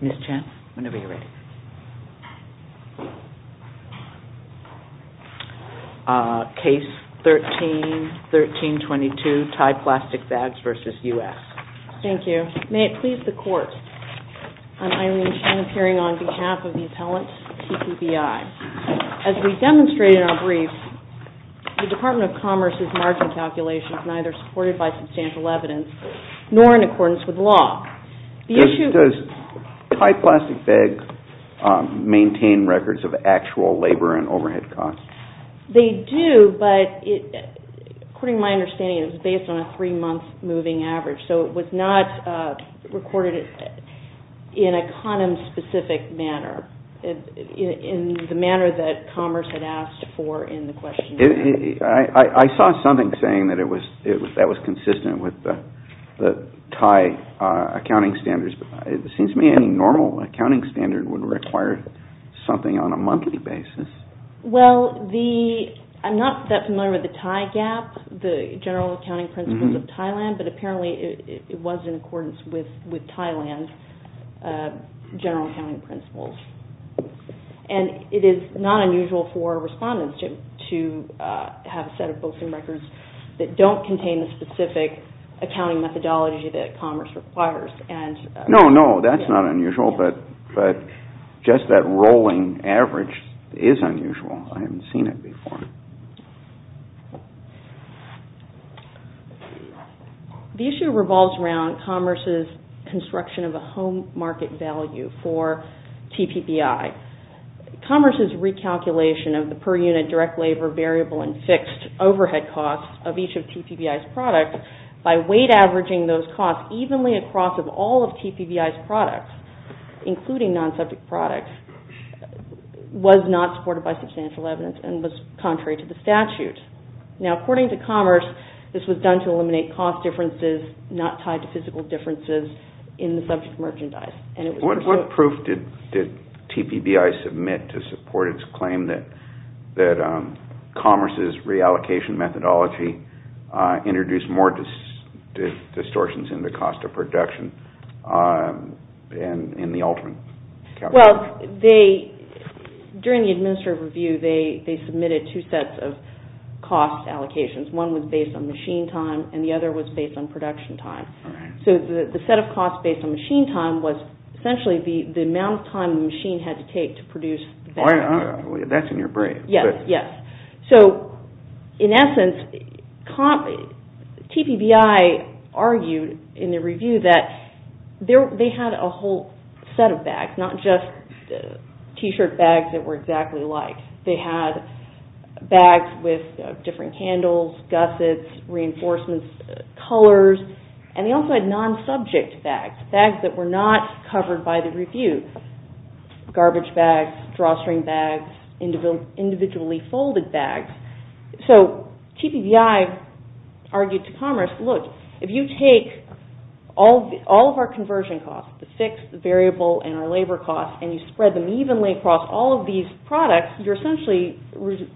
Ms. Chan, whenever you're ready. Case 13-1322, Tide Plastic Bags v. U.S. Thank you. May it please the Court, I'm Irene Chan appearing on behalf of the appellant, TPBI. As we demonstrated in our brief, the Department of Commerce's margin calculation is neither supported by substantial evidence, nor in accordance with law. Does Tide Plastic Bags maintain records of actual labor and overhead costs? They do, but according to my understanding, it's based on a three-month moving average, so it was not recorded in a condom-specific manner, in the manner that Commerce had asked for in the question. I saw something saying that that was consistent with the Tide accounting standards, but it seems to me any normal accounting standard would require something on a monthly basis. Well, I'm not that familiar with the Tide Gap, the General Accounting Principles of Thailand, but apparently it was in accordance with Thailand General Accounting Principles. And it is not unusual for respondents to have a set of books and records that don't contain the specific accounting methodology that Commerce requires. No, no, that's not unusual, but just that rolling average is unusual. I haven't seen it before. The issue revolves around Commerce's construction of a home market value for TPBI. Commerce's recalculation of the per unit direct labor variable and fixed overhead costs of each of TPBI's products, by weight averaging those costs evenly across all of TPBI's products, including non-subject products, was not supported by substantial evidence and was contrary to the statute. Now, according to Commerce, this was done to eliminate cost differences not tied to physical differences in the subject merchandise. What proof did TPBI submit to support its claim that Commerce's reallocation methodology introduced more distortions in the cost of production in the ultimate calculation? Well, during the administrative review, they submitted two sets of cost allocations. One was based on machine time and the other was based on production time. So the set of costs based on machine time was essentially the amount of time the machine had to take to produce the bag. That's in your brain. Yes, yes. So, in essence, TPBI argued in the review that they had a whole set of bags, not just t-shirt bags that were exactly alike. They had bags with different candles, gussets, reinforcements, colors, and they also had non-subject bags, bags that were not covered by the review, garbage bags, drawstring bags, individually folded bags. So TPBI argued to Commerce, look, if you take all of our conversion costs, the fixed, the variable, and our labor costs, and you spread them evenly across all of these products, you're essentially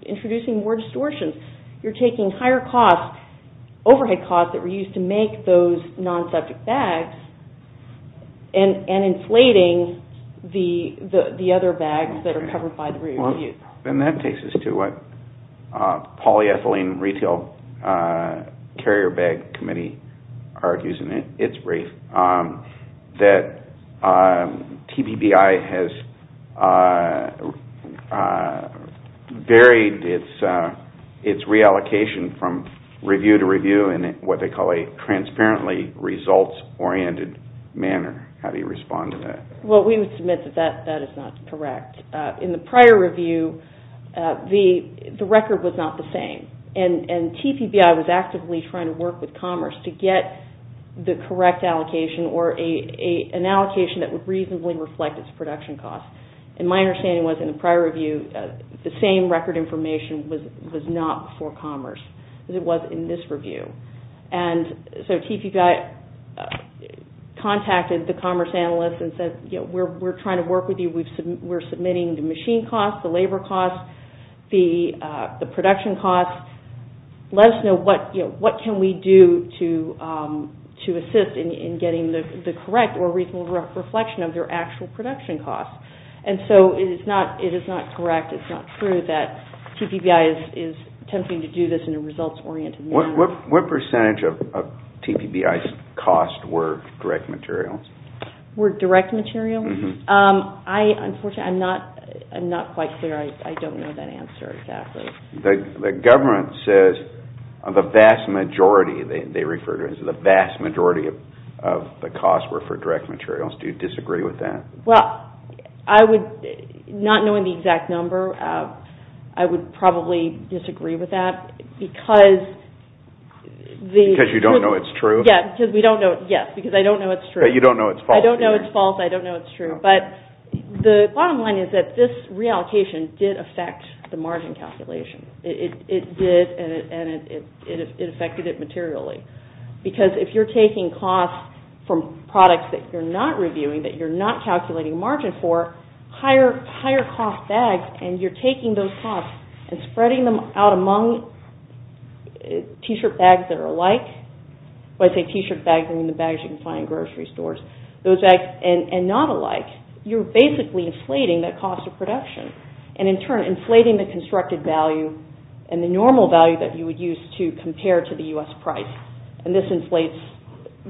introducing more distortions. You're taking higher overhead costs that were used to make those non-subject bags and inflating the other bags that are covered by the review. And that takes us to what polyethylene retail carrier bag committee argues in its brief that TPBI has varied its reallocation from review to review in what they call a transparently results-oriented manner. How do you respond to that? Well, we would submit that that is not correct. In the prior review, the record was not the same, and TPBI was actively trying to work with Commerce to get the correct allocation or an allocation that would reasonably reflect its production costs. And my understanding was in the prior review, the same record information was not for Commerce as it was in this review. And so TPBI contacted the Commerce analysts and said, you know, we're trying to work with you. We're submitting the machine costs, the labor costs, the production costs. Let us know what can we do to assist in getting the correct or reasonable reflection of their actual production costs. And so it is not correct. It's not true that TPBI is attempting to do this in a results-oriented manner. What percentage of TPBI's costs were direct materials? Were direct materials? Unfortunately, I'm not quite clear. I don't know that answer exactly. The government says the vast majority, they refer to it as the vast majority of the costs were for direct materials. Do you disagree with that? Well, not knowing the exact number, I would probably disagree with that because Because you don't know it's true? Yes, because I don't know it's true. You don't know it's false? I don't know it's false. I don't know it's true. But the bottom line is that this reallocation did affect the margin calculation. It did, and it affected it materially. Because if you're taking costs from products that you're not reviewing, that you're not calculating margin for, higher cost bags, and you're taking those costs and spreading them out among T-shirt bags that are alike. When I say T-shirt bags, I mean the bags you can find in grocery stores. Those bags, and not alike, you're basically inflating the cost of production, and in turn inflating the constructed value and the normal value that you would use to compare to the U.S. price, and this inflates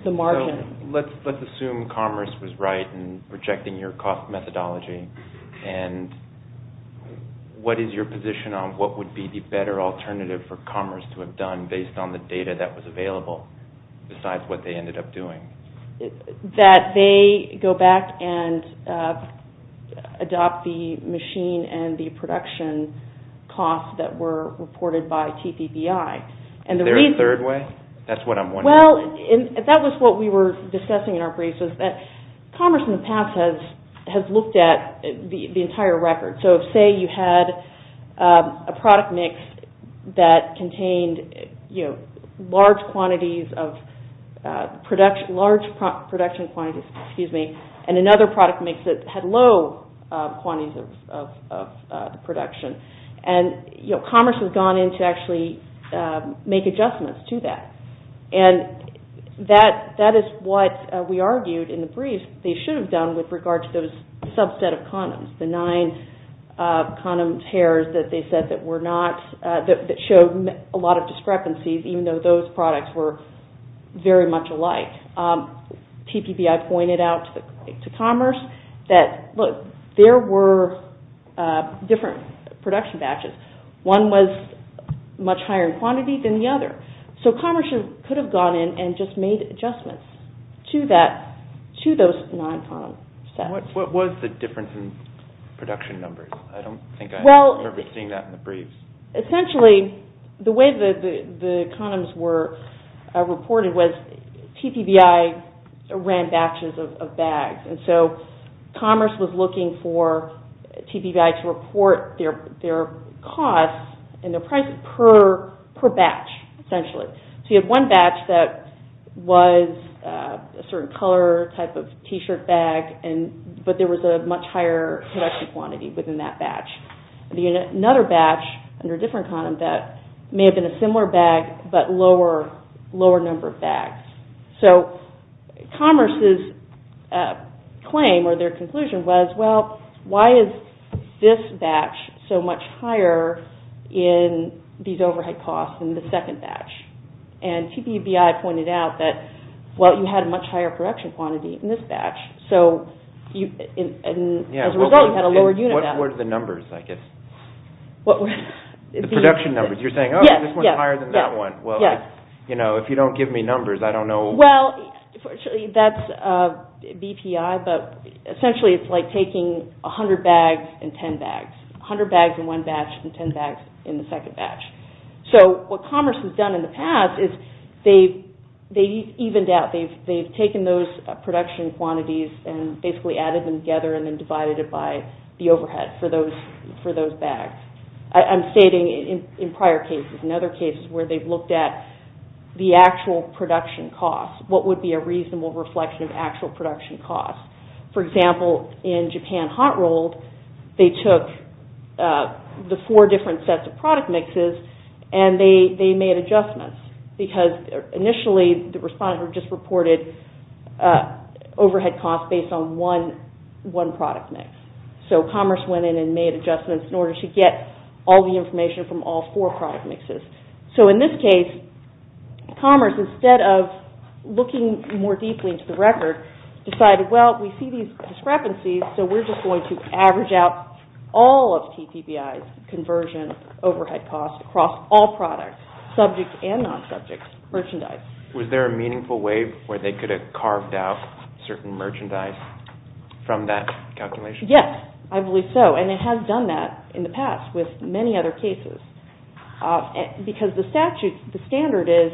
the margin. So let's assume commerce was right in rejecting your cost methodology, and what is your position on what would be the better alternative for commerce to have done based on the data that was available besides what they ended up doing? That they go back and adopt the machine and the production costs that were reported by TPBI. Is there a third way? That's what I'm wondering. Well, that was what we were discussing in our briefs, is that commerce in the past has looked at the entire record. So say you had a product mix that contained large production quantities, and another product mix that had low quantities of production. Commerce has gone in to actually make adjustments to that, and that is what we argued in the condoms heirs that they said that showed a lot of discrepancies, even though those products were very much alike. TPBI pointed out to commerce that, look, there were different production batches. One was much higher in quantity than the other. So commerce could have gone in and just made adjustments to those non-condom sets. What was the difference in production numbers? I don't think I remember seeing that in the briefs. Essentially, the way the condoms were reported was TPBI ran batches of bags. So commerce was looking for TPBI to report their costs and their prices per batch, essentially. So you had one batch that was a certain color type of t-shirt bag, but there was a much higher production quantity within that batch. Another batch under a different condom that may have been a similar bag, but lower number of bags. So commerce's claim or their conclusion was, well, why is this batch so much higher in these overhead costs in the second batch? And TPBI pointed out that, well, you had a much higher production quantity in this batch. So as a result, you had a lower unit value. What were the numbers, I guess? The production numbers. You're saying, oh, this one's higher than that one. Well, if you don't give me numbers, I don't know. Well, that's BPI, but essentially it's like taking 100 bags and 10 bags. 100 bags in one batch and 10 bags in the second batch. So what commerce has done in the past is they've evened out. They've taken those production quantities and basically added them together and then divided it by the overhead for those bags. I'm stating in prior cases and other cases where they've looked at the actual production costs, what would be a reasonable reflection of actual production costs. For example, in Japan hot rolled, they took the four different sets of product mixes and they made adjustments because initially the respondent had just reported overhead costs based on one product mix. So commerce went in and made adjustments in order to get all the information from all four product mixes. So in this case, commerce, instead of looking more deeply into the record, decided, well, we see these discrepancies, so we're just going to average out all of TPBI's conversion overhead costs across all products, subject and non-subject merchandise. Was there a meaningful way where they could have carved out certain merchandise from that calculation? Yes, I believe so, and it has done that in the past with many other cases because the statute, the standard is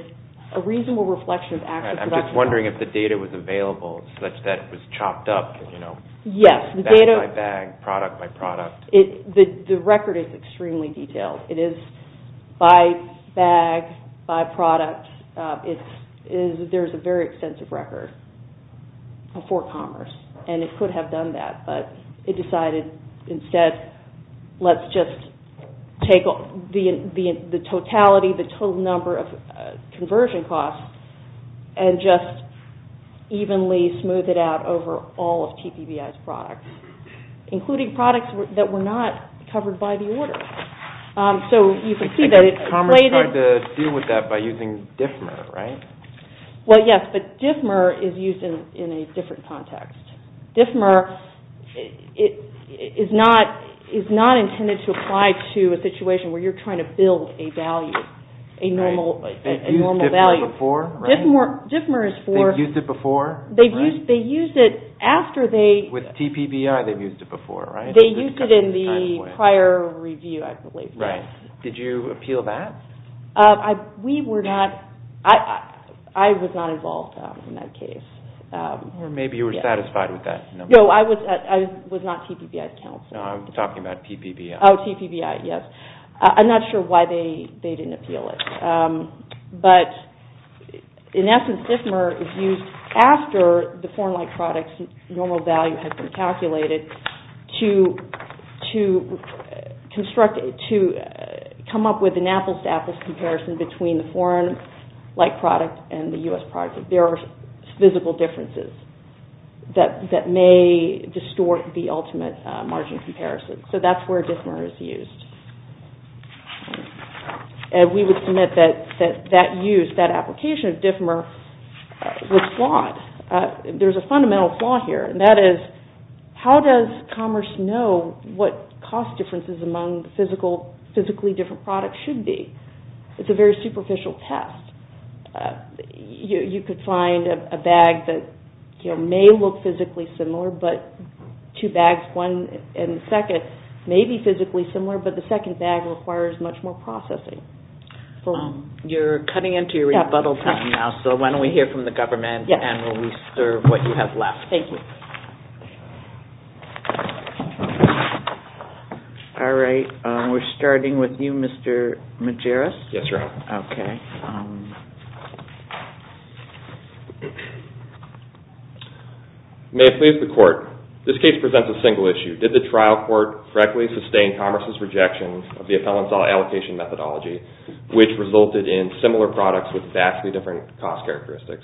a reasonable reflection of actual production costs. I was wondering if the data was available such that it was chopped up, you know, bag by bag, product by product. The record is extremely detailed. It is by bag, by product. There's a very extensive record for commerce, and it could have done that, but it decided instead let's just take the totality, the total number of conversion costs, and just evenly smooth it out over all of TPBI's products, including products that were not covered by the order. So you can see that it played in. Commerce tried to deal with that by using DFMR, right? Well, yes, but DFMR is used in a different context. DFMR is not intended to apply to a situation where you're trying to build a value, a normal value. They've used DFMR before, right? DFMR is for... They've used it before, right? They used it after they... With TPBI, they've used it before, right? They used it in the prior review, I believe. Right. Did you appeal that? We were not... I was not involved in that case. Or maybe you were satisfied with that. No, I was not TPBI's counsel. No, I'm talking about TPBI. Oh, TPBI, yes. I'm not sure why they didn't appeal it. But in essence, DFMR is used after the foreign-like product's normal value has been calculated to construct... to come up with an apples-to-apples comparison between the foreign-like product and the U.S. product. There are physical differences that may distort the ultimate margin comparison. So that's where DFMR is used. And we would submit that that use, that application of DFMR was flawed. There's a fundamental flaw here, and that is, how does commerce know what cost differences among physically different products should be? It's a very superficial test. You could find a bag that may look physically similar, but two bags, one and the second, may be physically similar, but the second bag requires much more processing. You're cutting into your rebuttal time now, so why don't we hear from the government and we'll reserve what you have left. Thank you. All right, we're starting with you, Mr. Majerus. Yes, Your Honor. Okay. May it please the Court, this case presents a single issue. Did the trial court correctly sustain commerce's rejection of the appellant's allocation methodology, which resulted in similar products with vastly different cost characteristics?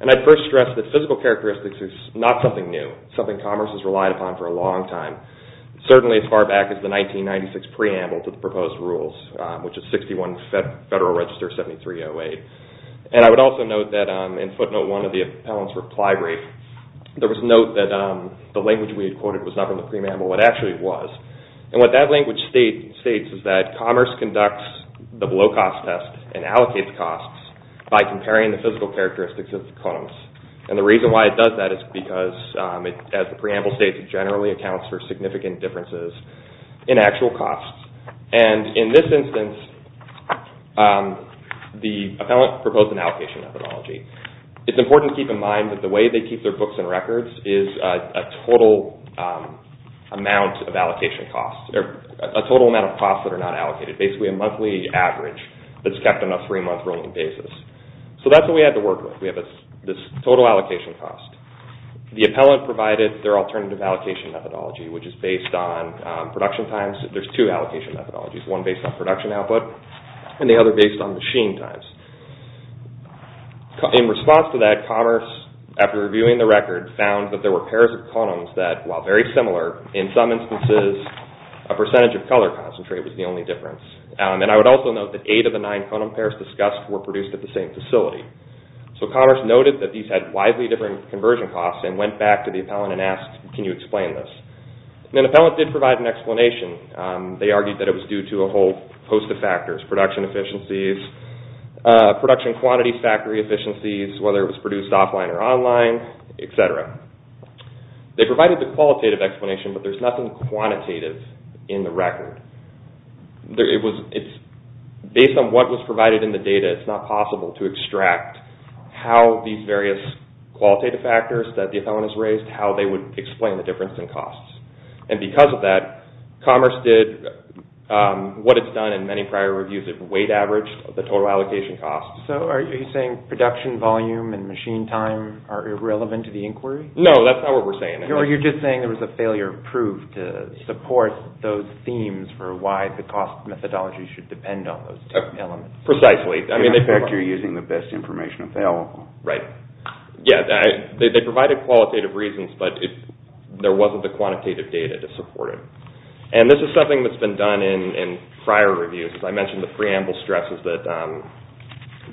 And I'd first stress that physical characteristics is not something new, something commerce has relied upon for a long time, certainly as far back as the 1996 preamble to the proposed rules, which is 61 Federal Register 7308. And I would also note that in footnote one of the appellant's reply brief, there was a note that the language we had quoted was not from the preamble, but actually it was. And what that language states is that commerce conducts the low-cost test and allocates costs by comparing the physical characteristics of the columns. And the reason why it does that is because, as the preamble states, technology generally accounts for significant differences in actual costs. And in this instance, the appellant proposed an allocation methodology. It's important to keep in mind that the way they keep their books and records is a total amount of allocation costs, or a total amount of costs that are not allocated, basically a monthly average that's kept on a three-month rolling basis. So that's what we had to work with. We have this total allocation cost. The appellant provided their alternative allocation methodology, which is based on production times. There's two allocation methodologies, one based on production output and the other based on machine times. In response to that, commerce, after reviewing the record, found that there were pairs of columns that, while very similar, in some instances a percentage of color concentrate was the only difference. And I would also note that eight of the nine column pairs discussed were produced at the same facility. So commerce noted that these had widely different conversion costs and went back to the appellant and asked, can you explain this? The appellant did provide an explanation. They argued that it was due to a whole host of factors, production efficiencies, production quantity factory efficiencies, whether it was produced offline or online, etc. They provided the qualitative explanation, but there's nothing quantitative in the record. Based on what was provided in the data, it's not possible to extract how these various qualitative factors that the appellant has raised, how they would explain the difference in costs. And because of that, commerce did what it's done in many prior reviews. It weight averaged the total allocation costs. So are you saying production volume and machine time are irrelevant to the inquiry? No, that's not what we're saying. You're just saying there was a failure of proof to support those themes for why the cost methodology should depend on those two elements. Precisely. In effect, you're using the best information available. Right. They provided qualitative reasons, but there wasn't the quantitative data to support it. And this is something that's been done in prior reviews. As I mentioned, the preamble stresses that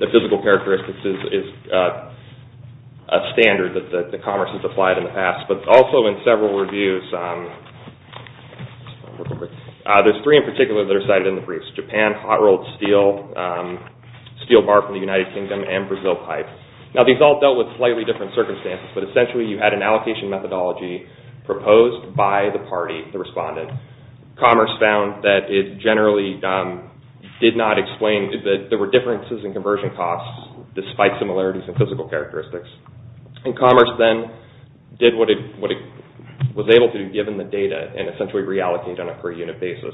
the physical characteristics is a standard that the commerce has applied in the past. But also in several reviews, there's three in particular that are cited in the briefs. Japan, hot rolled steel, steel bar from the United Kingdom, and Brazil pipe. Now these all dealt with slightly different circumstances, but essentially you had an allocation methodology proposed by the party, the respondent. Commerce found that it generally did not explain that there were differences in conversion costs despite similarities in physical characteristics. And commerce then did what it was able to do given the data and essentially reallocated on a per unit basis.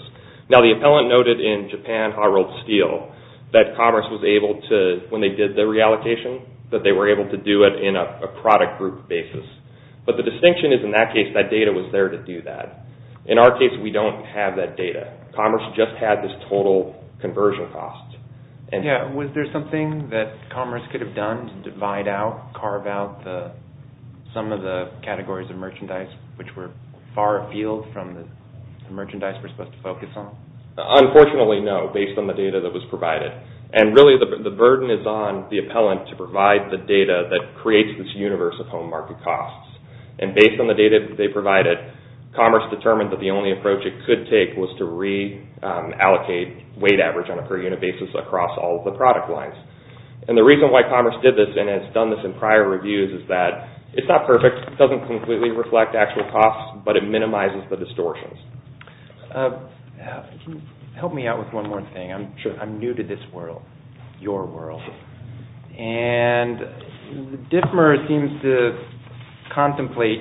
Now the appellant noted in Japan, hot rolled steel, that commerce was able to, when they did the reallocation, that they were able to do it in a product group basis. But the distinction is in that case, that data was there to do that. In our case, we don't have that data. Commerce just had this total conversion cost. Yeah, was there something that commerce could have done to divide out, carve out some of the categories of merchandise which were far afield from the merchandise we're supposed to focus on? Unfortunately, no, based on the data that was provided. And really the burden is on the appellant to provide the data that creates this universe of home market costs. And based on the data that they provided, commerce determined that the only approach it could take was to reallocate weight average on a per unit basis across all of the product lines. And the reason why commerce did this and has done this in prior reviews is that it's not perfect. It doesn't completely reflect actual costs, but it minimizes the distortions. Help me out with one more thing. I'm new to this world, your world. And DfMR seems to contemplate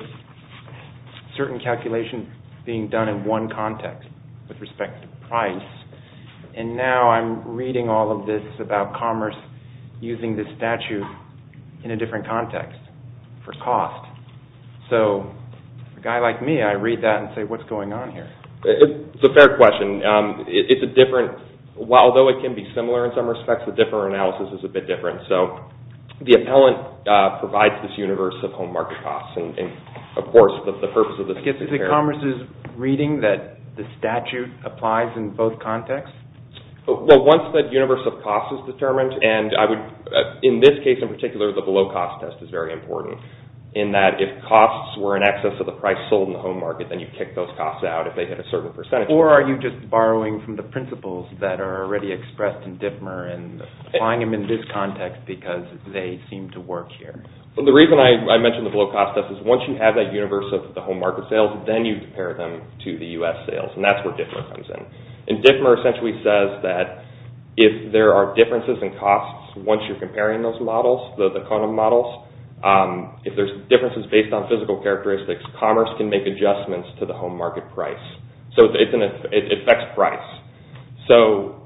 certain calculations being done in one context with respect to price. And now I'm reading all of this about commerce using this statute in a different context for cost. So a guy like me, I read that and say, what's going on here? It's a fair question. It's a different, although it can be similar in some respects, the different analysis is a bit different. So the appellant provides this universe of home market costs. And, of course, the purpose of this is to compare. Is it commerce's reading that the statute applies in both contexts? Well, once that universe of costs is determined, and in this case in particular, the below cost test is very important, in that if costs were in excess of the price sold in the home market, then you kick those costs out if they hit a certain percentage. Or are you just borrowing from the principles that are already expressed in DfMR and applying them in this context because they seem to work here? Well, the reason I mention the below cost test is once you have that universe of the home market sales, then you compare them to the U.S. sales. And that's where DfMR comes in. And DfMR essentially says that if there are differences in costs once you're comparing those models, the condom models, if there's differences based on physical characteristics, commerce can make adjustments to the home market price. So it affects price. So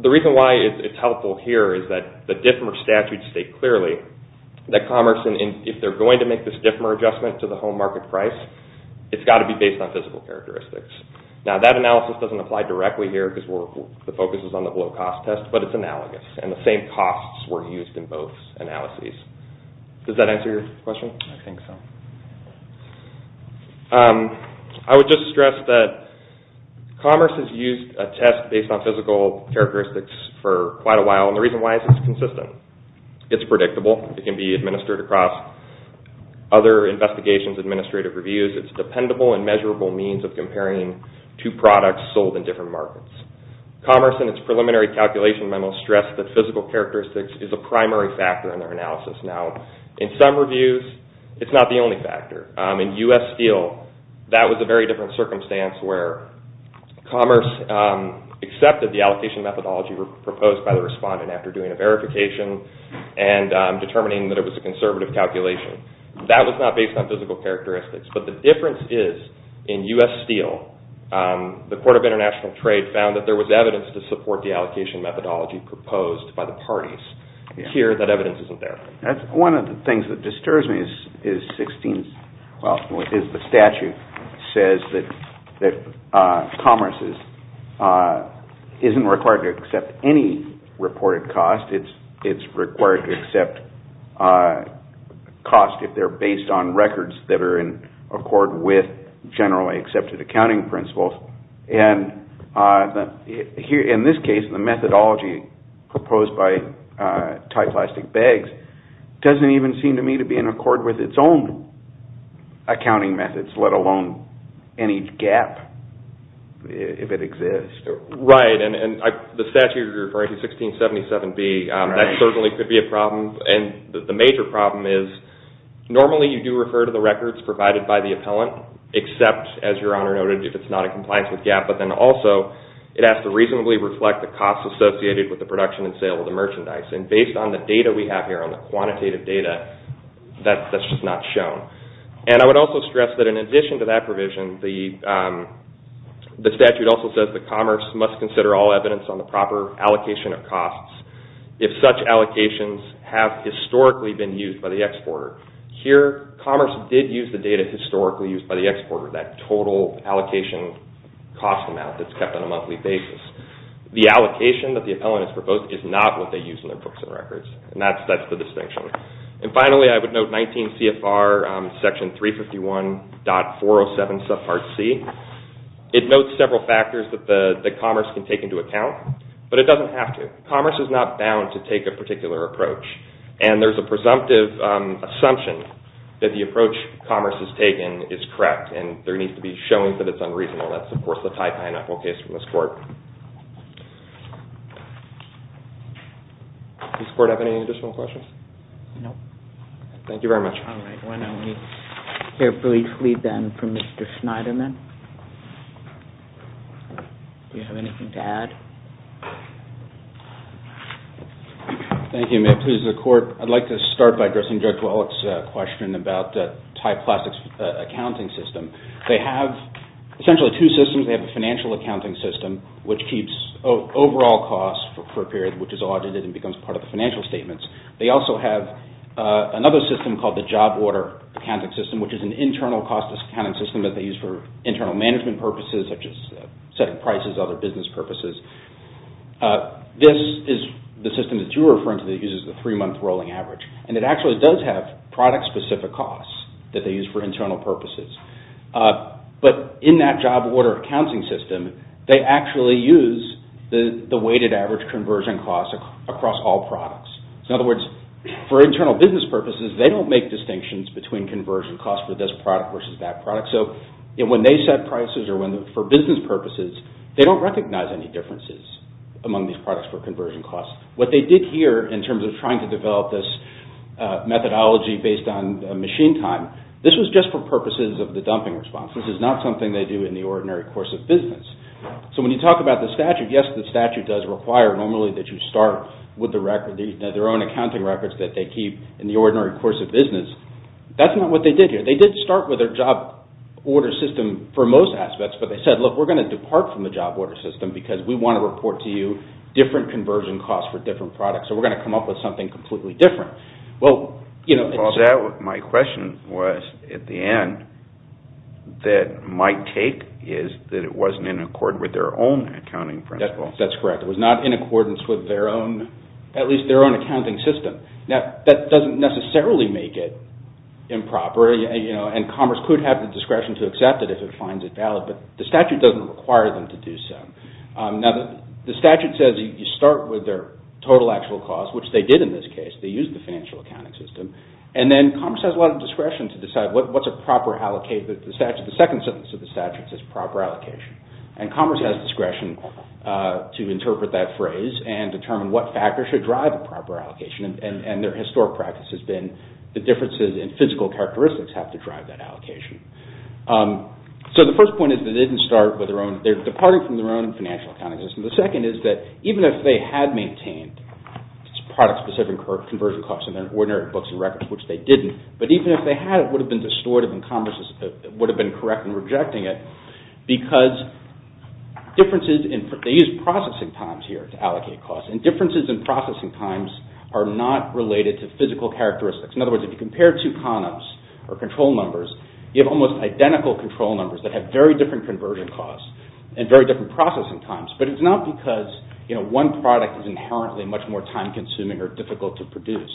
the reason why it's helpful here is that the DfMR statutes state clearly that commerce, if they're going to make this DfMR adjustment to the home market price, it's got to be based on physical characteristics. Now, that analysis doesn't apply directly here because the focus is on the below cost test, but it's analogous. And the same costs were used in both analyses. Does that answer your question? I think so. I would just stress that commerce has used a test based on physical characteristics for quite a while. And the reason why is it's consistent. It's predictable. It can be administered across other investigations, administrative reviews. It's a dependable and measurable means of comparing two products sold in different markets. Commerce, in its preliminary calculation memo, stressed that physical characteristics is a primary factor in their analysis. Now, in some reviews, it's not the only factor. In U.S. Steel, that was a very different circumstance where commerce accepted the allocation methodology proposed by the respondent after doing a verification and determining that it was a conservative calculation. That was not based on physical characteristics, but the difference is in U.S. Steel, the Court of International Trade found that there was evidence to support the allocation methodology proposed by the parties. Here, that evidence isn't there. One of the things that disturbs me is the statute says that commerce isn't required to accept any reported cost. It's required to accept cost if they're based on records that are in accord with generally accepted accounting principles. In this case, the methodology proposed by Thai Plastic Bags doesn't even seem to me to be in accord with its own accounting methods, let alone any gap, if it exists. Right, and the statute you're referring to, 1677B, that certainly could be a problem. The major problem is normally you do refer to the records provided by the appellant, except, as Your Honor noted, if it's not in compliance with GAAP, but then also it has to reasonably reflect the costs associated with the production and sale of the merchandise. Based on the data we have here, on the quantitative data, that's just not shown. I would also stress that in addition to that provision, the statute also says that commerce must consider all evidence on the proper allocation of costs. If such allocations have historically been used by the exporter. Here, commerce did use the data historically used by the exporter, that total allocation cost amount that's kept on a monthly basis. The allocation that the appellant has proposed is not what they use in their books and records, and that's the distinction. And finally, I would note 19 CFR section 351.407 subpart C. It notes several factors that commerce can take into account, but it doesn't have to. Commerce is not bound to take a particular approach, and there's a presumptive assumption that the approach commerce has taken is correct, and there needs to be showing that it's unreasonable. That's, of course, the Thai pineapple case from this Court. Does this Court have any additional questions? No. Thank you very much. All right. Why don't we hear briefly then from Mr. Schneiderman. Do you have anything to add? Thank you. May it please the Court. I'd like to start by addressing Judge Wallach's question about Thai Plastics' accounting system. They have essentially two systems. They have a financial accounting system, which keeps overall costs for a period which is audited and becomes part of the financial statements. They also have another system called the job order accounting system, which is an internal cost-discounting system that they use for internal management purposes, such as setting prices, other business purposes. This is the system that you were referring to that uses the three-month rolling average, and it actually does have product-specific costs that they use for internal purposes. But in that job order accounting system, they actually use the weighted average conversion costs across all products. In other words, for internal business purposes, they don't make distinctions between conversion costs for this product versus that product. So when they set prices for business purposes, they don't recognize any differences among these products for conversion costs. What they did here in terms of trying to develop this methodology based on machine time, this was just for purposes of the dumping response. This is not something they do in the ordinary course of business. So when you talk about the statute, yes, the statute does require normally that you start with their own accounting records that they keep in the ordinary course of business. That's not what they did here. They did start with their job order system for most aspects, but they said, look, we're going to depart from the job order system because we want to report to you different conversion costs for different products, so we're going to come up with something completely different. Well, my question was, at the end, that my take is that it wasn't in accord with their own accounting principles. That's correct. It was not in accordance with their own, at least their own accounting system. Now, that doesn't necessarily make it improper, and Commerce could have the discretion to accept it if it finds it valid, but the statute doesn't require them to do so. Now, the statute says you start with their total actual cost, which they did in this case. They used the financial accounting system. And then Commerce has a lot of discretion to decide what's a proper allocation. The second sentence of the statute says proper allocation, and Commerce has discretion to interpret that phrase and determine what factors should drive a proper allocation, and their historic practice has been the differences in physical characteristics have to drive that allocation. So the first point is that they didn't start with their own, they're departing from their own financial accounting system. The second is that even if they had maintained product-specific conversion costs in their ordinary books and records, which they didn't, but even if they had, it would have been distorted and Commerce would have been correct in rejecting it because differences in, they use processing times here to allocate costs, and differences in processing times are not related to physical characteristics. In other words, if you compare two columns or control numbers, you have almost identical control numbers that have very different conversion costs and very different processing times, but it's not because one product is inherently much more time-consuming or difficult to produce.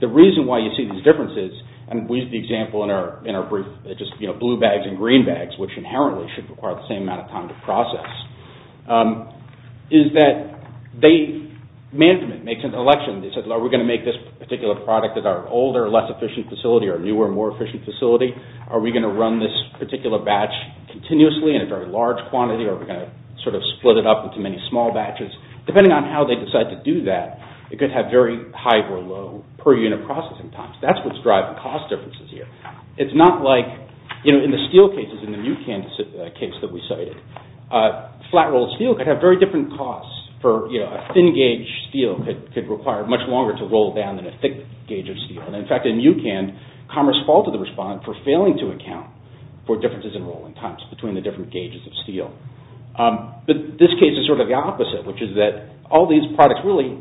The reason why you see these differences, and we use the example in our brief, just blue bags and green bags, which inherently should require the same amount of time to process, is that management makes an election. They say, well, are we going to make this particular product as our older, less efficient facility, our newer, more efficient facility? Are we going to run this particular batch continuously in a very large quantity, or are we going to sort of split it up into many small batches? Depending on how they decide to do that, it could have very high or low per-unit processing times. That's what's driving cost differences here. It's not like, you know, in the steel cases, in the NuCan case that we cited, flat-rolled steel could have very different costs. A thin-gauge steel could require much longer to roll down than a thick gauge of steel. In fact, in NuCan, commerce faulted the respondent for failing to account for differences in rolling times between the different gauges of steel. But this case is sort of the opposite, which is that all these products really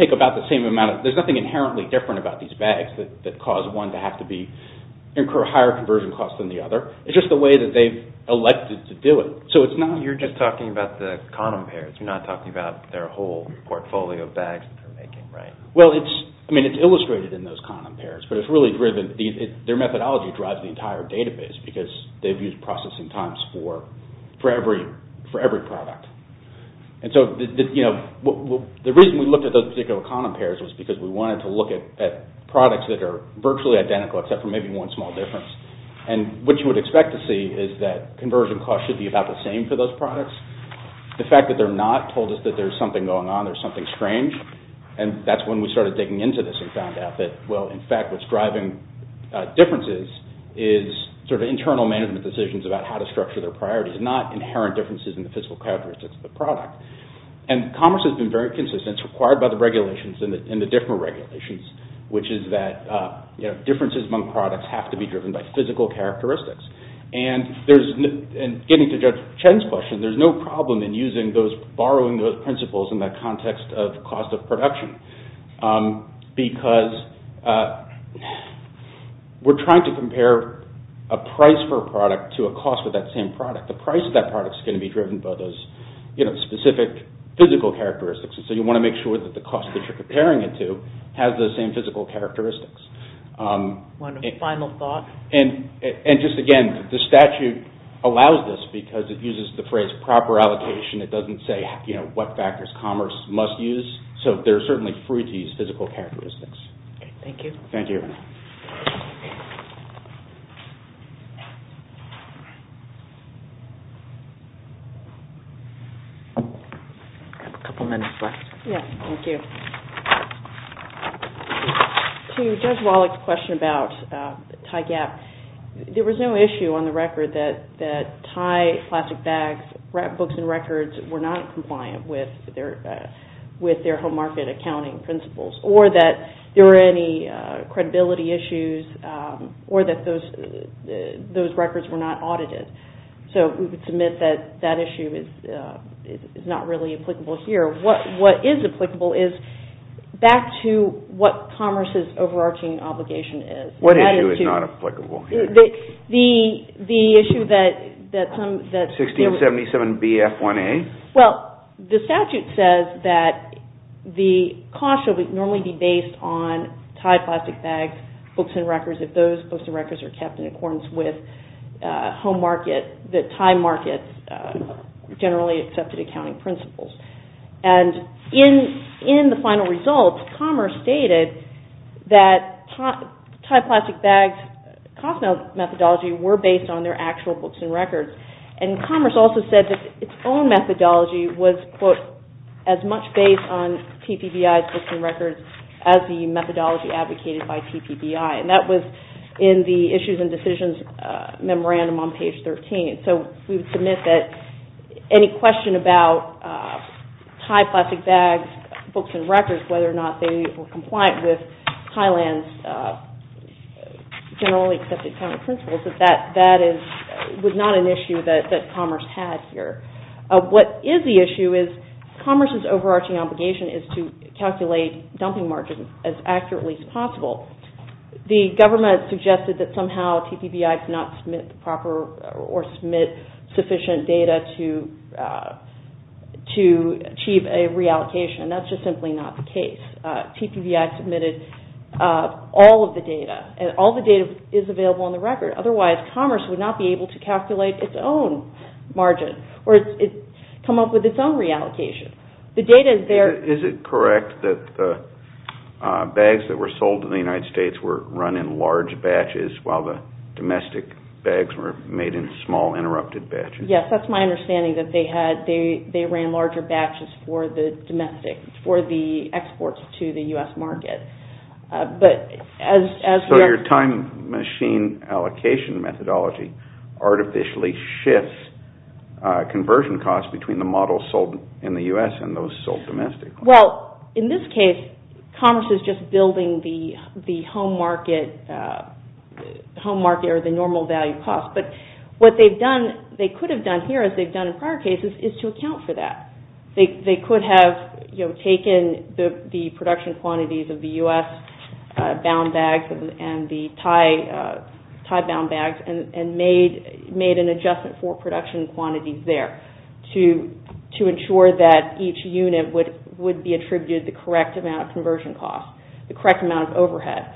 take about the same amount. There's nothing inherently different about these bags that cause one to have to incur higher conversion costs than the other. It's just the way that they've elected to do it. So it's not... You're just talking about the condom pairs. You're not talking about their whole portfolio of bags that they're making, right? Well, it's illustrated in those condom pairs, but it's really driven... Their methodology drives the entire database because they've used processing times for every product. And so the reason we looked at those particular condom pairs was because we wanted to look at products that are virtually identical, except for maybe one small difference. And what you would expect to see is that conversion costs should be about the same for those products. The fact that they're not told us that there's something going on, there's something strange, and that's when we started digging into this and found out that, well, in fact, what's driving differences is sort of internal management decisions about how to structure their priorities, not inherent differences in the physical characteristics of the product. And commerce has been very consistent. It's required by the regulations and the different regulations, which is that differences among products have to be driven by physical characteristics. And getting to Judge Chen's question, there's no problem in using those, borrowing those principles in that context of cost of production because we're trying to compare a price for a product to a cost for that same product. The price of that product's going to be driven by those specific physical characteristics, and so you want to make sure that the cost that you're comparing it to has those same physical characteristics. One final thought. And just again, the statute allows this because it uses the phrase proper allocation. It doesn't say what factors commerce must use, so they're certainly free to use physical characteristics. Thank you. Thank you. We have a couple minutes left. Yes, thank you. To Judge Wallach's question about TIGAP, there was no issue on the record that TIGAP plastic bags, books and records were not compliant with their home market accounting principles, or that there were any credibility issues, or that those records were not audited. So we would submit that that issue is not really applicable here. What is applicable is back to what commerce's overarching obligation is. What issue is not applicable here? The issue that some... 1677BF1A. Well, the statute says that the cost should normally be based on TIGAP plastic bags, books and records, if those books and records are kept in accordance with home market, generally accepted accounting principles. And in the final results, commerce stated that TIGAP plastic bags cost methodology were based on their actual books and records, and commerce also said that its own methodology was, quote, as much based on TPBI's books and records as the methodology advocated by TPBI. And that was in the Issues and Decisions memorandum on page 13. So we would submit that any question about TIGAP plastic bags, books and records, whether or not they were compliant with Thailand's generally accepted accounting principles, that that is not an issue that commerce has here. What is the issue is commerce's overarching obligation is to calculate dumping margins as accurately as possible. The government suggested that somehow TPBI could not submit the proper or submit sufficient data to achieve a reallocation, and that's just simply not the case. TPBI submitted all of the data, and all the data is available on the record. Otherwise, commerce would not be able to calculate its own margin or come up with its own reallocation. The data there... Is it correct that the bags that were sold in the United States were run in large batches while the domestic bags were made in small interrupted batches? Yes, that's my understanding that they ran larger batches for the exports to the U.S. market. So your time machine allocation methodology artificially shifts conversion costs between the models sold in the U.S. and those sold domestically. Well, in this case, commerce is just building the home market or the normal value cost. But what they could have done here, as they've done in prior cases, is to account for that. They could have taken the production quantities of the U.S. bound bags and the Thai bound bags and made an adjustment for production quantities there to ensure that each unit would be attributed the correct amount of conversion costs, the correct amount of overhead.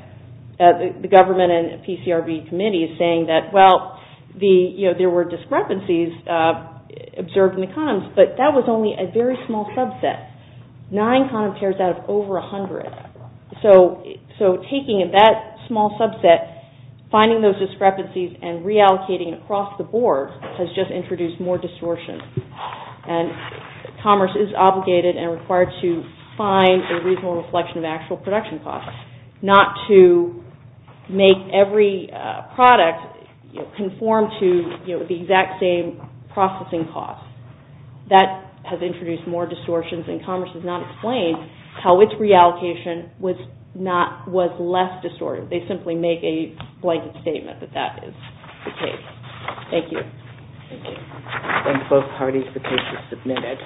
The government and PCRB committee is saying that, well, there were discrepancies observed in the condoms, but that was only a very small subset. Nine condom pairs out of over 100. So taking that small subset, finding those discrepancies and reallocating it across the board has just introduced more distortion. And commerce is obligated and required to find a reasonable reflection of actual production costs, not to make every product conform to the exact same processing costs. That has introduced more distortions and commerce has not explained how its reallocation was less distorted. They simply make a blanket statement that that is the case. Thank you. Thank you. Thank both parties. The case is submitted.